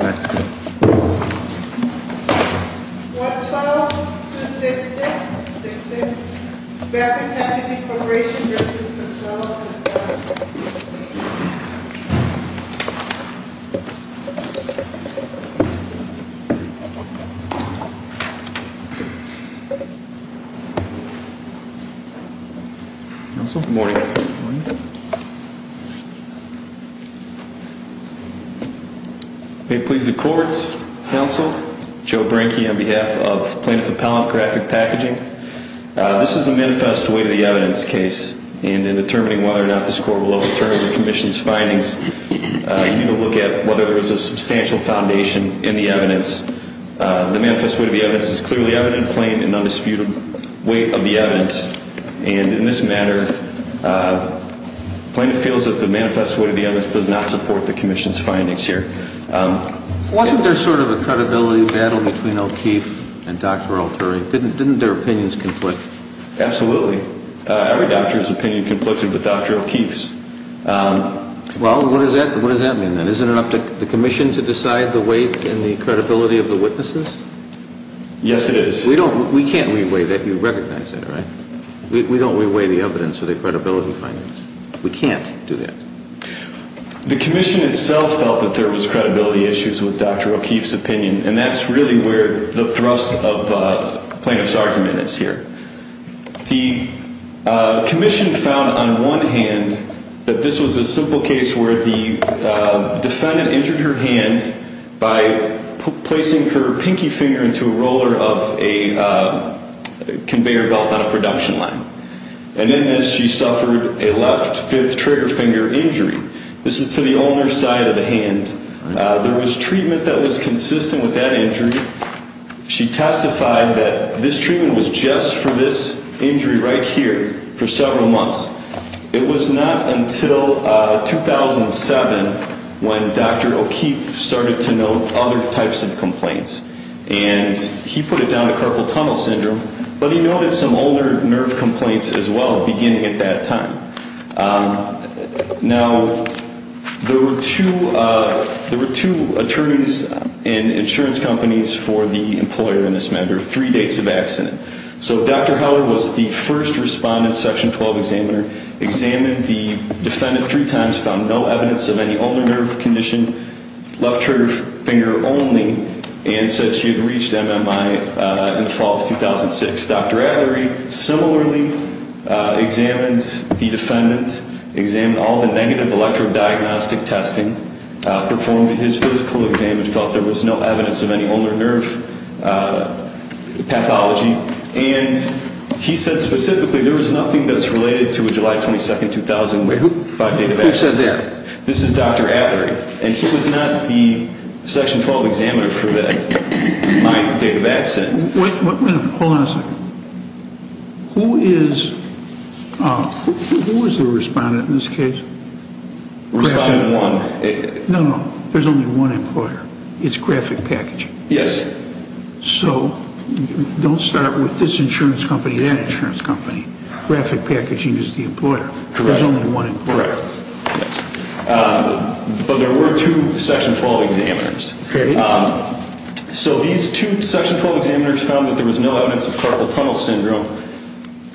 Nextbag Web 2016 Beneficial Packaging Corporation v. Manuela Good morning. Please the court's counsel, Joe Brinke on behalf of plaintiff appellant graphic packaging. This is a manifest way to the evidence case and in determining whether or not this court will overturn the commission's findings, you need to look at whether there was a substantial foundation in the evidence. The manifest way to the evidence is clearly evident, plain and undisputed weight of the evidence. And in this matter, plaintiff feels that the manifest way to the evidence does not support the commission's findings here. Wasn't there sort of a credibility battle between O'Keefe and Dr. Alteri? Didn't didn't their opinions conflict? Absolutely. Every doctor's opinion conflicted with Dr. O'Keefe's. Well, what does that what does that mean then? Isn't it up to the commission to decide the weight and the credibility of the witnesses? Yes, it is. We don't we can't reweigh that. You recognize that, right? We don't reweigh the evidence of the credibility findings. We can't do that. The commission itself felt that there was credibility issues with Dr. O'Keefe's opinion. And that's really where the thrust of plaintiff's argument is here. The commission found on one hand that this was a simple case where the defendant injured her hand by placing her pinky finger into a roller of a conveyor belt on a production line. And then she suffered a left fifth trigger finger injury. This is to the owner's side of the hand. There was treatment that was consistent with that injury. She testified that this treatment was just for this injury right here for several months. It was not until 2007 when Dr. O'Keefe started to note other types of complaints. And he put it down to carpal tunnel syndrome. But he noted some older nerve complaints as well, beginning at that time. Now, there were two there were two attorneys and insurance companies for the employer in this matter, three dates of accident. So Dr. Howard was the first respondent section 12 examiner examined the defendant three times found no evidence of any older nerve condition, left trigger finger only, and said she had reached MMI in the fall of 2006. Dr. Avery similarly examined the defendant examined all the negative electro diagnostic testing performed in his physical exam and felt there was no evidence of any older nerve pathology. And he said specifically there was nothing that's related to a July 22nd thousand way who said that? This is Dr. Avery. And he was not the section 12 examiner for that. My data back since who is who is the respondent in this case? No, no, there's only one employer. It's graphic packaging. Yes. So don't start with this insurance company, that insurance company, graphic packaging is the employer. Correct. But there were two section 12 examiners. So these two section 12 examiners found that there was no evidence of carpal tunnel syndrome.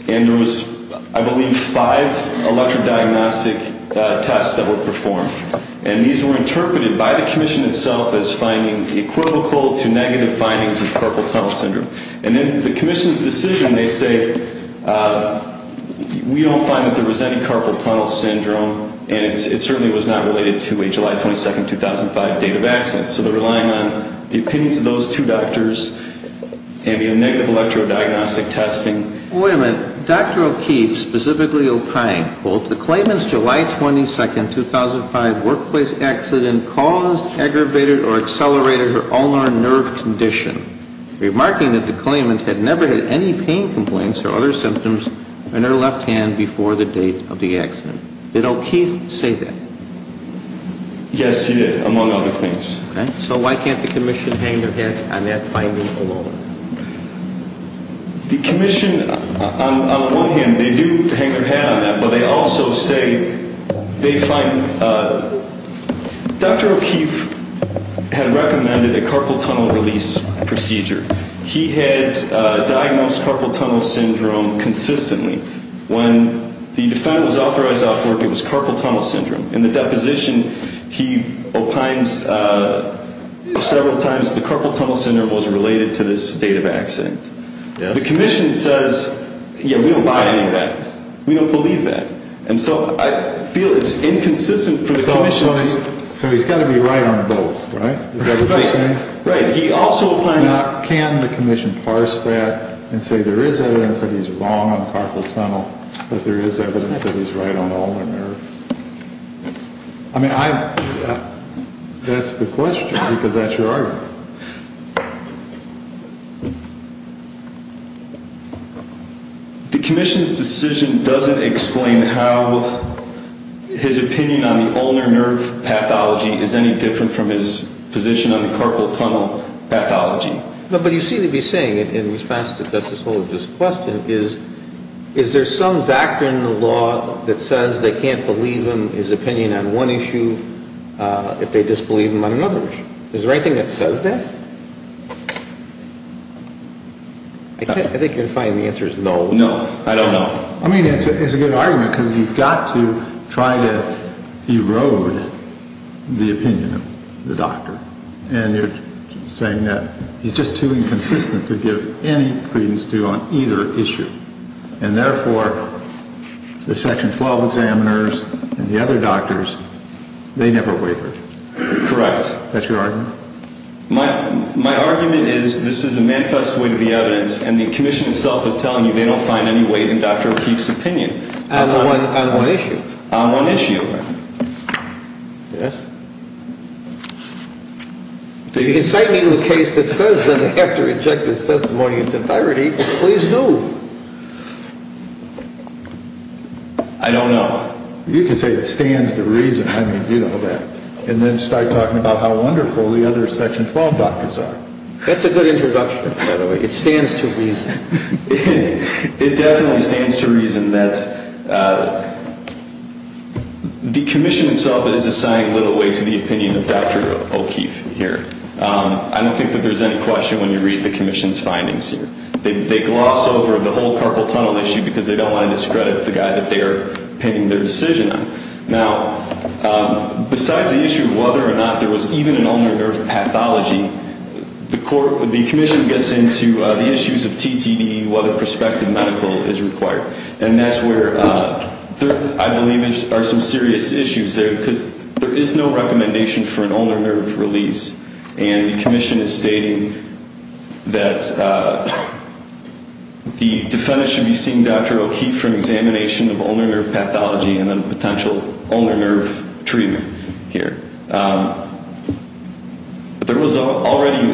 And there was, I believe, five electro diagnostic tests that were performed. And these were interpreted by the commission itself as finding equivocal to negative findings of carpal tunnel syndrome. And then the there was any carpal tunnel syndrome. And it certainly was not related to a July 22nd 2005 date of accident. So the relying on the opinions of those two doctors and the negative electro diagnostic testing women, Dr. O'Keefe specifically opine, quote, the claimants July 22nd 2005 workplace accident caused aggravated or accelerated her ulnar nerve condition, remarking that the claimant had never had any pain complaints or other symptoms in her left hand before the date of the accident. Did O'Keefe say that? Yes, he did, among other things. Okay. So why can't the commission hang their head on that finding alone? The commission, on one hand, they do hang their head on that, but they also say they find, Dr. O'Keefe had recommended a carpal tunnel release procedure. He had diagnosed carpal tunnel syndrome consistently when the defendant was authorized off work, it was carpal tunnel syndrome. In the deposition, he opines several times the carpal tunnel syndrome was related to this date of accident. The commission says, yeah, we don't buy any of that. We don't believe that. And so I feel it's inconsistent for the commission. So he's got to be right on both, right? Right. He also can the commission parse that and say there is evidence that he's wrong on carpal tunnel, that there is evidence that he's right on ulnar nerve. I mean, that's the question, because that's your argument. The commission's decision doesn't explain how his opinion on the ulnar nerve pathology is any different from his position on the carpal tunnel pathology. But you seem to be saying, in response to Justice Holder's question, is there some doctrine in the law that says they can't believe him, his opinion on one issue, if they disbelieve him on another issue? Is there anything that says that? I think you can find the answer is no. No, I don't know. I mean, it's a good argument, because you've got to try to erode the opinion of the commission. I'm just saying that he's just too inconsistent to give any credence to on either issue. And therefore, the section 12 examiners and the other doctors, they never wavered. Correct. That's your argument. My argument is this is a manifest way to the evidence, and the commission itself is telling you they don't find any weight in Dr. O'Keefe's opinion. On one issue? On one issue. Yes. If you can cite me to a case that says that they have to reject his testimony in its entirety, please do. I don't know. You can say it stands to reason. I mean, you know that. And then start talking about how wonderful the other section 12 doctors are. That's a good introduction, by the way. It stands to reason. It definitely stands to reason that the commission itself that is assigning little weight to the opinion of Dr. O'Keefe here. I don't think that there's any question when you read the commission's findings here. They gloss over the whole carpal tunnel issue because they don't want to discredit the guy that they're pinning their decision on. Now, besides the issue of whether or not there was even an ulnar nerve pathology, the commission gets into the issues of TTDE, whether prospective medical is required. And that's where I believe there are some serious issues there because there is no recommendation for an ulnar nerve release. And the commission is stating that the defendant should be seen, Dr. O'Keefe, for an examination of ulnar nerve pathology and then potential ulnar nerve treatment here. There was already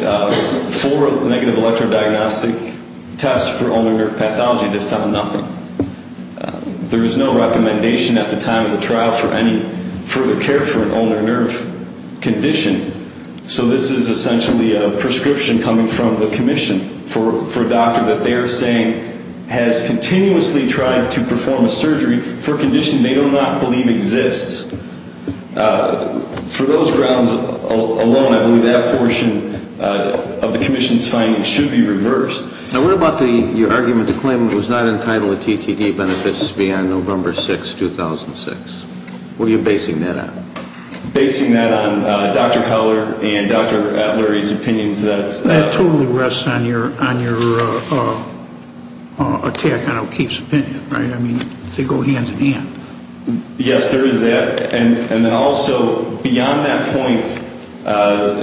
four negative electrodiagnostic tests for ulnar nerve pathology that found nothing. There is no recommendation at the time of the trial for any further care for an ulnar nerve condition. So this is essentially a prescription coming from the commission for a doctor that they're saying has continuously tried to perform a surgery for a condition they do not believe exists. For those grounds alone, I believe that portion of the commission's findings should be reversed. Now, what about your argument to claim it was not entitled to TTDE benefits beyond November 6, 2006? What are you basing that on? Basing that on Dr. Heller and Dr. Atlery's opinions. That totally rests on your attack on O'Keefe's opinion, right? I mean, they go hand in hand. Yes, there is that. And then also, beyond that point,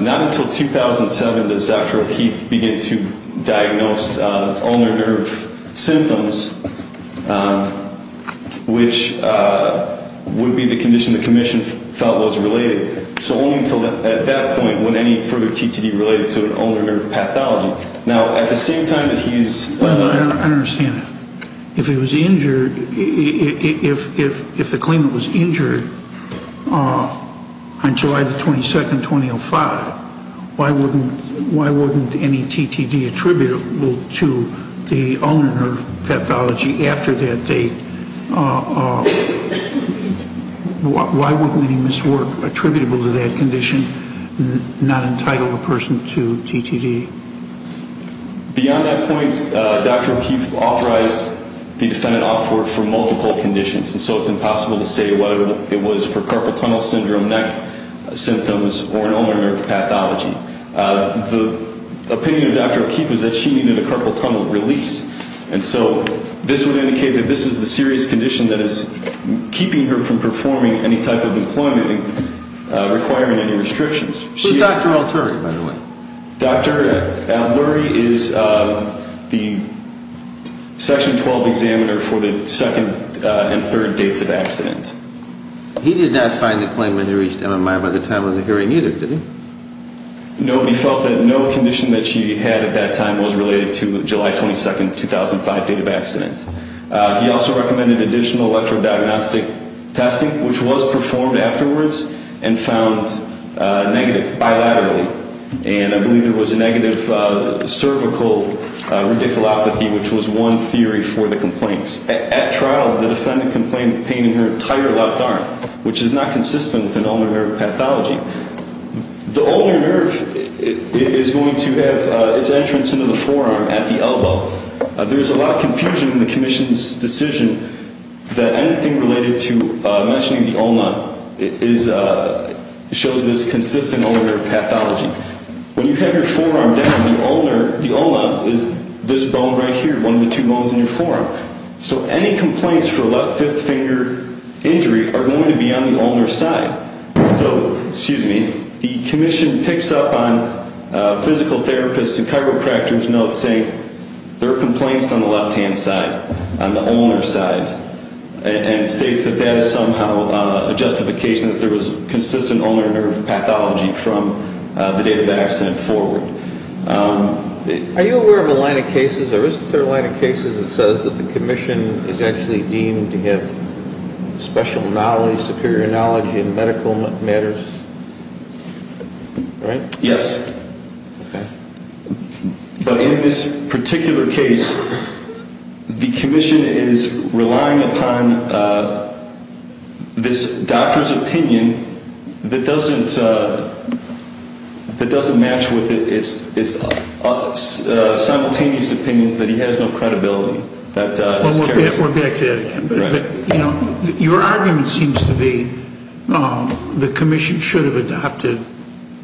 not until 2007 does Dr. O'Keefe begin to diagnose ulnar nerve symptoms, which would be the condition the commission felt was related. So only until at that point would any further TTDE be related to an ulnar nerve pathology. Now, at the same time that he's... I understand. If it was injured, if the claimant was injured on July the 22nd, 2005, why wouldn't any TTDE attributable to the ulnar nerve pathology after that date? Why wouldn't any miswork attributable to that condition not entitle the person to TTDE? Beyond that point, Dr. O'Keefe authorized the defendant to offer for multiple conditions. And so it's impossible to say whether it was for carpal tunnel syndrome, neck symptoms, or an ulnar nerve pathology. The opinion of Dr. O'Keefe was that she needed a carpal tunnel release. And so this would indicate that this is the serious condition that is keeping her from performing any type of employment requiring any restrictions. Who's Dr. Alturi, by the way? Dr. Alturi is the Section 12 examiner for the second and third dates of accident. He did not find the claimant who reached MMI by the time of the hearing either, did he? Nobody felt that no condition that she had at that time was related to July 22nd, 2005 date of accident. He also recommended additional electrodiagnostic testing, which was performed afterwards and found negative bilaterally. And I believe there was a negative cervical radiculopathy, which was one theory for the complaints. At trial, the ulnar nerve pathology is not consistent with an ulnar nerve pathology. The ulnar nerve is going to have its entrance into the forearm at the elbow. There's a lot of confusion in the commission's decision that anything related to mentioning the ulna shows this consistent ulnar nerve pathology. When you have your forearm down, the ulna is this bone right here, one of the two bones in your forearm. So any complaints for left fifth finger injury are going to be on the ulnar side. So, excuse me, the commission picks up on physical therapists and chiropractors' notes saying there are complaints on the left-hand side, on the ulnar side, and states that that is somehow a justification that there was consistent ulnar nerve pathology from the date of the accident forward. Are you aware of a line of cases, or is there a line of cases, where it's actually deemed to have special knowledge, superior knowledge in medical matters? Right? Yes. But in this particular case, the commission is relying upon this doctor's opinion that doesn't match with its simultaneous opinions that he has no credibility. We're back to that again. But your argument seems to be the commission should have adopted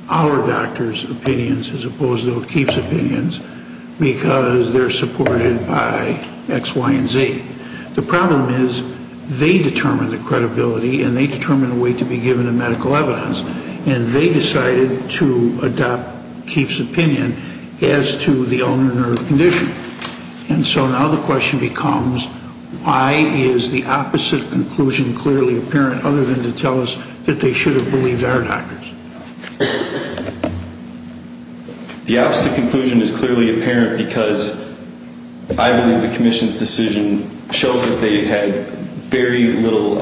our doctor's opinions as opposed to O'Keefe's opinions because they're supported by X, Y, and Z. The problem is they determined the credibility, and they determined a way to be given a medical evidence, and they decided to adopt O'Keefe's opinion as to the ulnar nerve condition. And so now the question becomes, why is the opposite conclusion clearly apparent other than to tell us that they should have believed our doctors? The opposite conclusion is clearly apparent because I believe the commission's decision shows that they had very little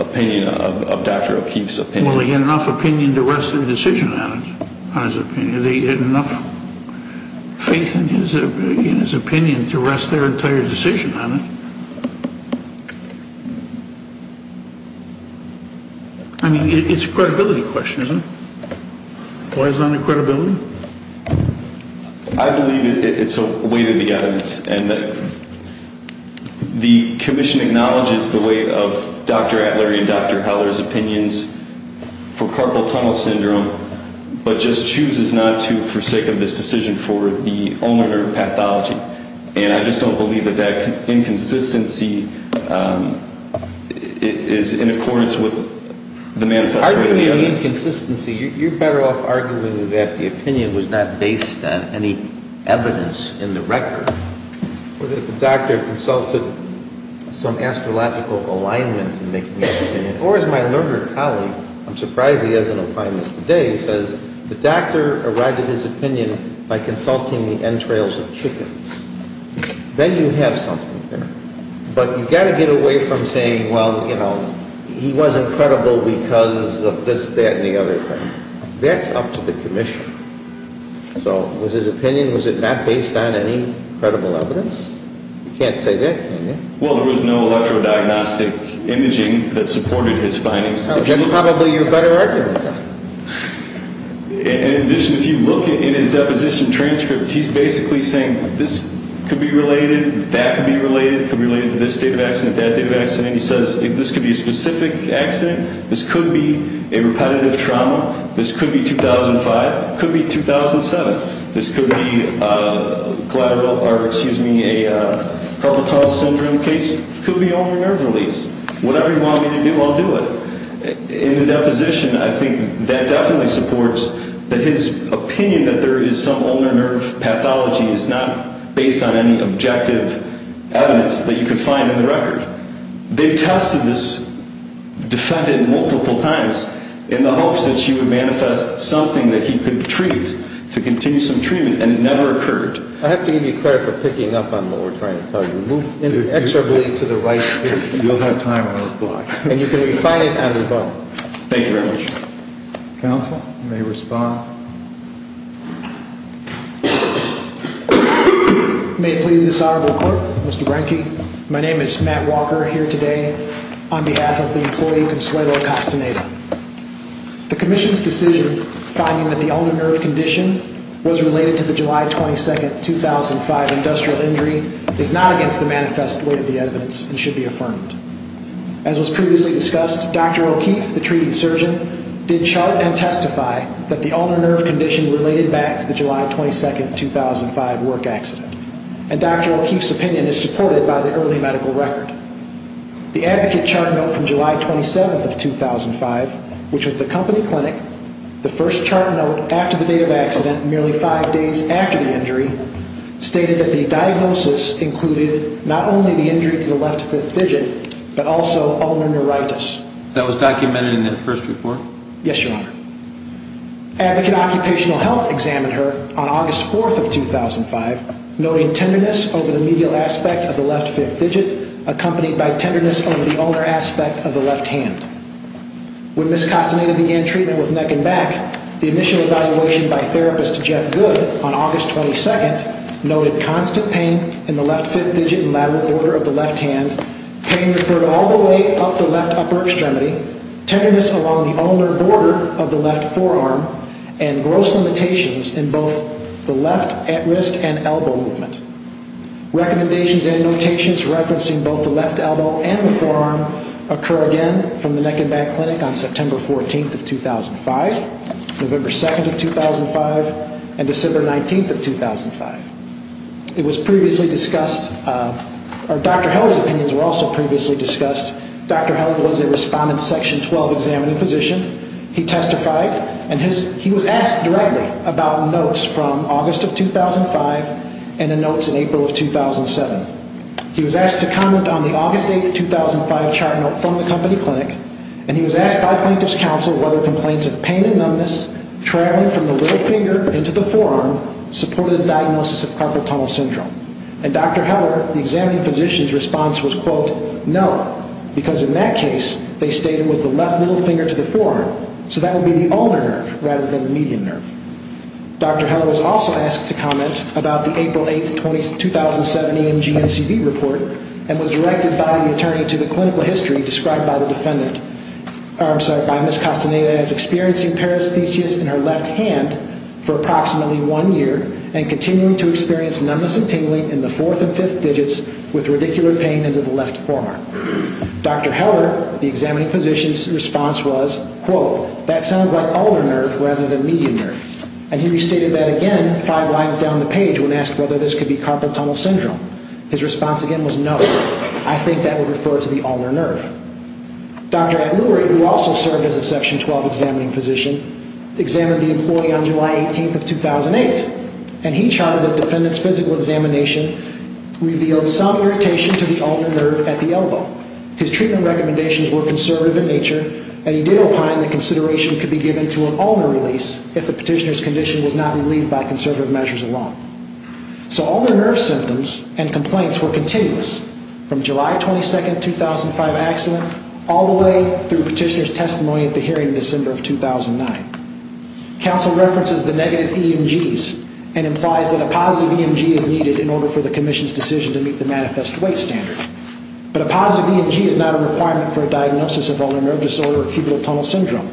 opinion of Dr. O'Keefe's opinion. Well, he had enough opinion to rest their decision on his opinion. They had enough faith in his opinion to rest their entire decision on it. I mean, it's a credibility question, isn't it? Why is it under credibility? I believe it's a way to the evidence and that the commission acknowledges the weight of Dr. Atler and Dr. Heller's opinions for carpal tunnel syndrome, but just chooses not to for sake of this decision for the ulnar nerve pathology. And I just don't believe that that inconsistency is in accordance with the manifest way of the evidence. Arguing the inconsistency, you're better off arguing that the opinion was not based on any evidence in the record. Whether the doctor consulted some astrological alignment in making the opinion, or as my learned colleague, I'm surprised he has an opinion today, says the doctor arrived at his house with 10 trails of chickens. Then you have something there, but you've got to get away from saying, well, he wasn't credible because of this, that, and the other thing. That's up to the commission. So was his opinion, was it not based on any credible evidence? You can't say that, can you? Well, there was no electrodiagnostic imaging that supported his findings. That's probably your better argument. In addition, if you look in his deposition transcript, he's basically saying this could be related, that could be related, could be related to this date of accident, that date of accident. He says this could be a specific accident. This could be a repetitive trauma. This could be 2005, could be 2007. This could be a collateral, or excuse me, a albatross syndrome case. Could be ulnar nerve release. Whatever you want me to do, I'll do it. In the deposition, I think that definitely supports that his opinion that some ulnar nerve pathology is not based on any objective evidence that you can find in the record. They've tested this defendant multiple times in the hopes that she would manifest something that he could treat to continue some treatment, and it never occurred. I have to give you credit for picking up on what we're trying to tell you. Move inexorably to the right. You'll have time on the block. And you can May it please this Honorable Court, Mr. Brenke, my name is Matt Walker, here today on behalf of the employee, Consuelo Castaneda. The Commission's decision finding that the ulnar nerve condition was related to the July 22nd, 2005 industrial injury is not against the manifest way of the evidence and should be affirmed. As was previously discussed, Dr. O'Keefe, the treated surgeon, did July 22nd, 2005 work accident. And Dr. O'Keefe's opinion is supported by the early medical record. The advocate chart note from July 27th of 2005, which was the company clinic, the first chart note after the date of accident, merely five days after the injury, stated that the diagnosis included not only the injury to the left fifth digit, but also ulnar neuritis. That was documented in that first report? Yes, Your Honor. Advocate Occupational Health examined her on August 4th of 2005, noting tenderness over the medial aspect of the left fifth digit, accompanied by tenderness over the ulnar aspect of the left hand. When Ms. Castaneda began treatment with neck and back, the initial evaluation by therapist Jeff Good on August 22nd, noted constant pain in the left fifth digit and lateral border of the left hand, pain referred all the way up the left upper extremity, tenderness along the ulnar border of the left forearm, and gross limitations in both the left at wrist and elbow movement. Recommendations and notations referencing both the left elbow and the forearm occur again from the neck and back clinic on September 14th of 2005, November 2nd of 2005, and December 19th of 2005. It was previously discussed, or Dr. Held's opinions were also previously discussed. Dr. Held was a respondent section 12 examining physician. He testified and he was asked directly about notes from August of 2005 and the notes in April of 2007. He was asked to comment on the August 8th, 2005 chart note from the company clinic, and he was asked by plaintiff's counsel whether complaints of pain and numbness traveling from the middle finger into the forearm supported a diagnosis of carpal tunnel syndrome. And Dr. Held, the examining physician's quote, no, because in that case, they stated it was the left middle finger to the forearm, so that would be the ulnar nerve rather than the median nerve. Dr. Held was also asked to comment about the April 8th, 2007 EMG and CV report and was directed by the attorney to the clinical history described by the defendant, I'm sorry, by Ms. Castaneda as experiencing paresthesias in her left hand for approximately one year and continuing to experience numbness and pain in her left forearm. Dr. Held, the examining physician's response was, quote, that sounds like ulnar nerve rather than median nerve. And he restated that again five lines down the page when asked whether this could be carpal tunnel syndrome. His response again was no, I think that would refer to the ulnar nerve. Dr. Atluri, who also served as a section 12 examining physician, examined the employee on July 18th of 2008, and he charted the defendant's physical examination, revealed some irritation to the ulnar nerve at the elbow. His treatment recommendations were conservative in nature, and he did opine that consideration could be given to an ulnar release if the petitioner's condition was not relieved by conservative measures alone. So ulnar nerve symptoms and complaints were continuous from July 22nd, 2005 accident all the way through petitioner's testimony at the hearing in December of 2009. Counsel references the negative EMGs and implies that a positive EMG is needed in order for the commission's decision to meet the manifest weight standard. But a positive EMG is not a requirement for a diagnosis of ulnar nerve disorder or cubital tunnel syndrome.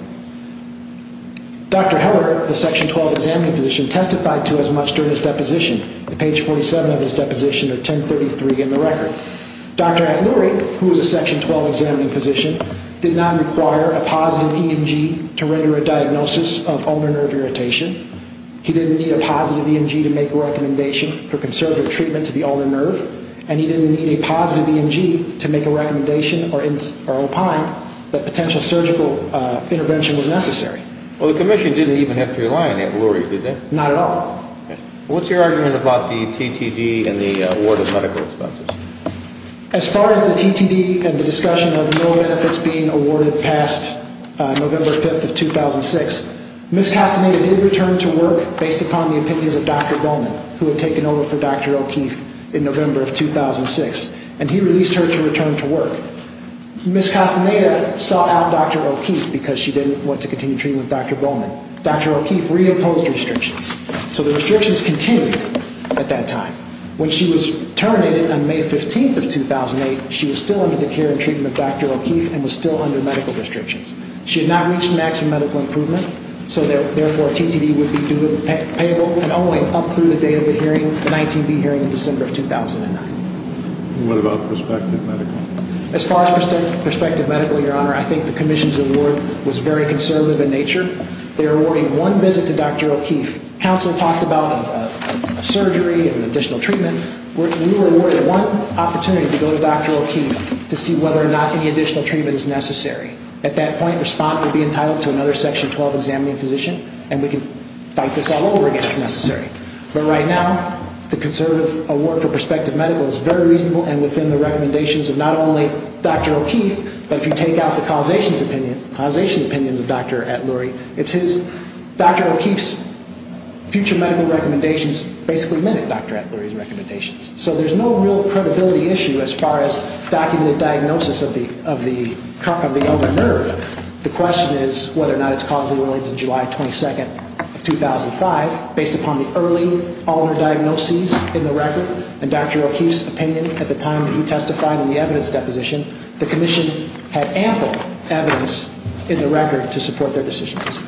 Dr. Heller, the section 12 examining physician, testified to as much during his deposition. Page 47 of his deposition or 1033 in the record. Dr. Atluri, who was a section 12 examining physician, did not require a positive EMG to render a diagnosis of ulnar nerve irritation. He didn't need a positive EMG to make a recommendation for conservative treatment to the ulnar nerve, and he didn't need a positive EMG to make a recommendation or opine that potential surgical intervention was necessary. Well, the commission didn't even have to rely on Dr. Atluri, did they? Not at all. What's your argument about the TTD and the award of medical expenses? As far as the TTD and the discussion of no benefits being awarded past November 5th of 2006, Ms. Castaneda did return to work based upon the opinions of Dr. Bowman, who had taken over for Dr. O'Keefe in November of 2006. And he released her to return to work. Ms. Castaneda sought out Dr. O'Keefe because she didn't want to continue treatment with Dr. Bowman. Dr. O'Keefe reimposed restrictions. So the restrictions continued at that time. When she was terminated on May 15th of 2008, she was still under the care and treatment of Dr. O'Keefe and was still under medical restrictions. She had not reached maximum medical improvement, so therefore, a TTD would be doable and only up through the date of the hearing, the 19B hearing in December of 2009. And what about prospective medical? As far as prospective medical, Your Honor, I think the commission's award was very conservative in nature. They're awarding one visit to Dr. O'Keefe. Counsel talked about a surgery and additional treatment. We were awarded one opportunity to go to Dr. O'Keefe to see whether or not any additional treatment is necessary. At that point, the respondent would be entitled to another Section 12 examining physician, and we could fight this all over again if necessary. But right now, the conservative award for prospective medical is very reasonable and within the recommendations of not only Dr. O'Keefe, but if you take out the causation opinions of Dr. Atluri, Dr. O'Keefe's future medical recommendations basically meant it, Dr. Atluri's recommendations. So there's no real credibility issue as far as documented diagnosis of the ulnar nerve. The question is whether or not it's causally related to July 22nd of 2005. Based upon the early ulnar diagnoses in the record and Dr. O'Keefe's opinion at the time that he testified in the evidence deposition, the commission had ample evidence in the case.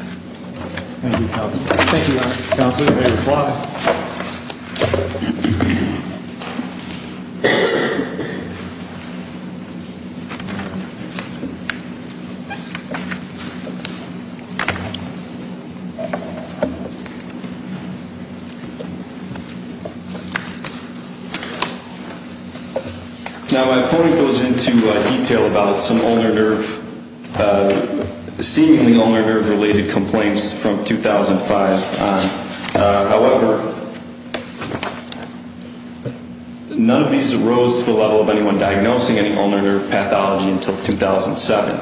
Now my point goes into detail about some ulnar nerve, seemingly ulnar nerve related complaints from 2005 on. However, none of these arose to the level of anyone diagnosing any ulnar nerve pathology until 2007.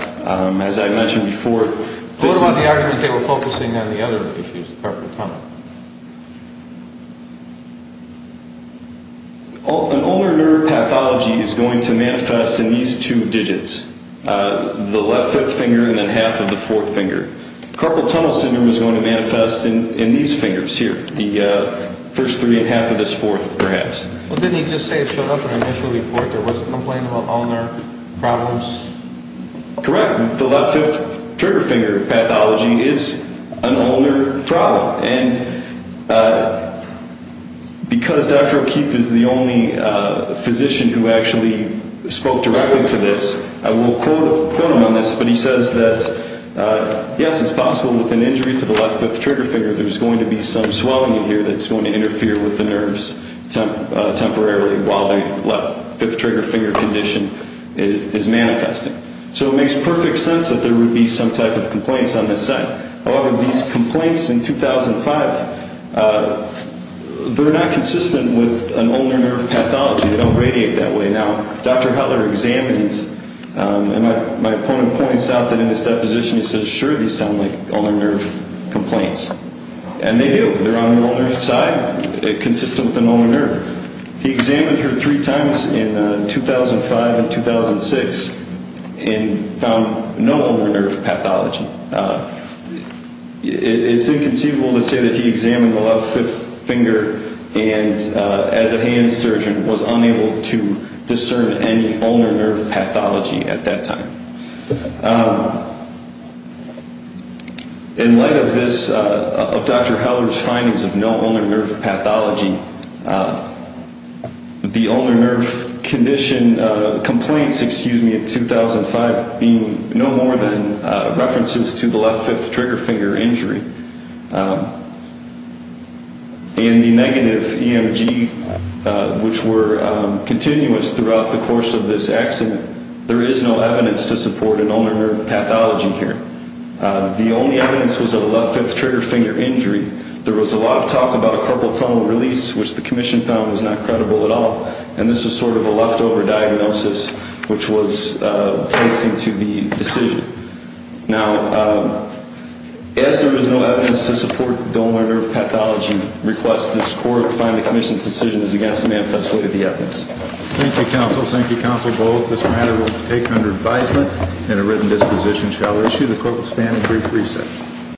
As I mentioned before, this is... What about the argument they were focusing on the other issues? An ulnar nerve pathology is going to manifest in these two digits, the left fifth finger and then half of the fourth finger. Carpal tunnel syndrome is going to manifest in these fingers here, the first three and half of this fourth, perhaps. Well, didn't he just say in the initial report there was a complaint about ulnar problems? Correct. The left fifth finger pathology is an ulnar problem. And because Dr. O'Keefe is the only physician who actually spoke directly to this, I will quote him on this, but he says that, yes, it's possible with an injury to the left fifth trigger finger, there's going to be some swelling here that's going to interfere with the nerves temporarily while the left fifth trigger finger condition is manifesting. So it makes perfect sense that there would be some type of complaints on this side. However, these complaints in 2005, they're not consistent with an ulnar nerve pathology. They don't radiate that way. Now, Dr. O'Keefe points out that in his deposition, he says, sure, these sound like ulnar nerve complaints. And they do. They're on the ulnar side, consistent with an ulnar nerve. He examined her three times in 2005 and 2006 and found no ulnar nerve pathology. It's inconceivable to say that he examined the left fifth finger and as a hand surgeon was unable to discern any ulnar nerve pathology at that time. In light of this, of Dr. Heller's findings of no ulnar nerve pathology, the ulnar nerve condition complaints, excuse me, in 2005 being no more than references to the left fifth trigger finger injury and the negative EMG, which were continuous throughout the course of this accident, there is no evidence to support an ulnar nerve pathology here. The only evidence was a left fifth trigger finger injury. There was a lot of talk about a carpal tunnel release, which the commission found was not credible at all. And this is sort of a leftover diagnosis, which was placed into the decision. Now, as there is no evidence to support the ulnar nerve pathology request, this court will find the commission's decision is against the manifest way of the evidence. Thank you, counsel. Thank you, counsel Bowles. This matter will take under advisement and a written disposition shall issue the court will stand in brief recess.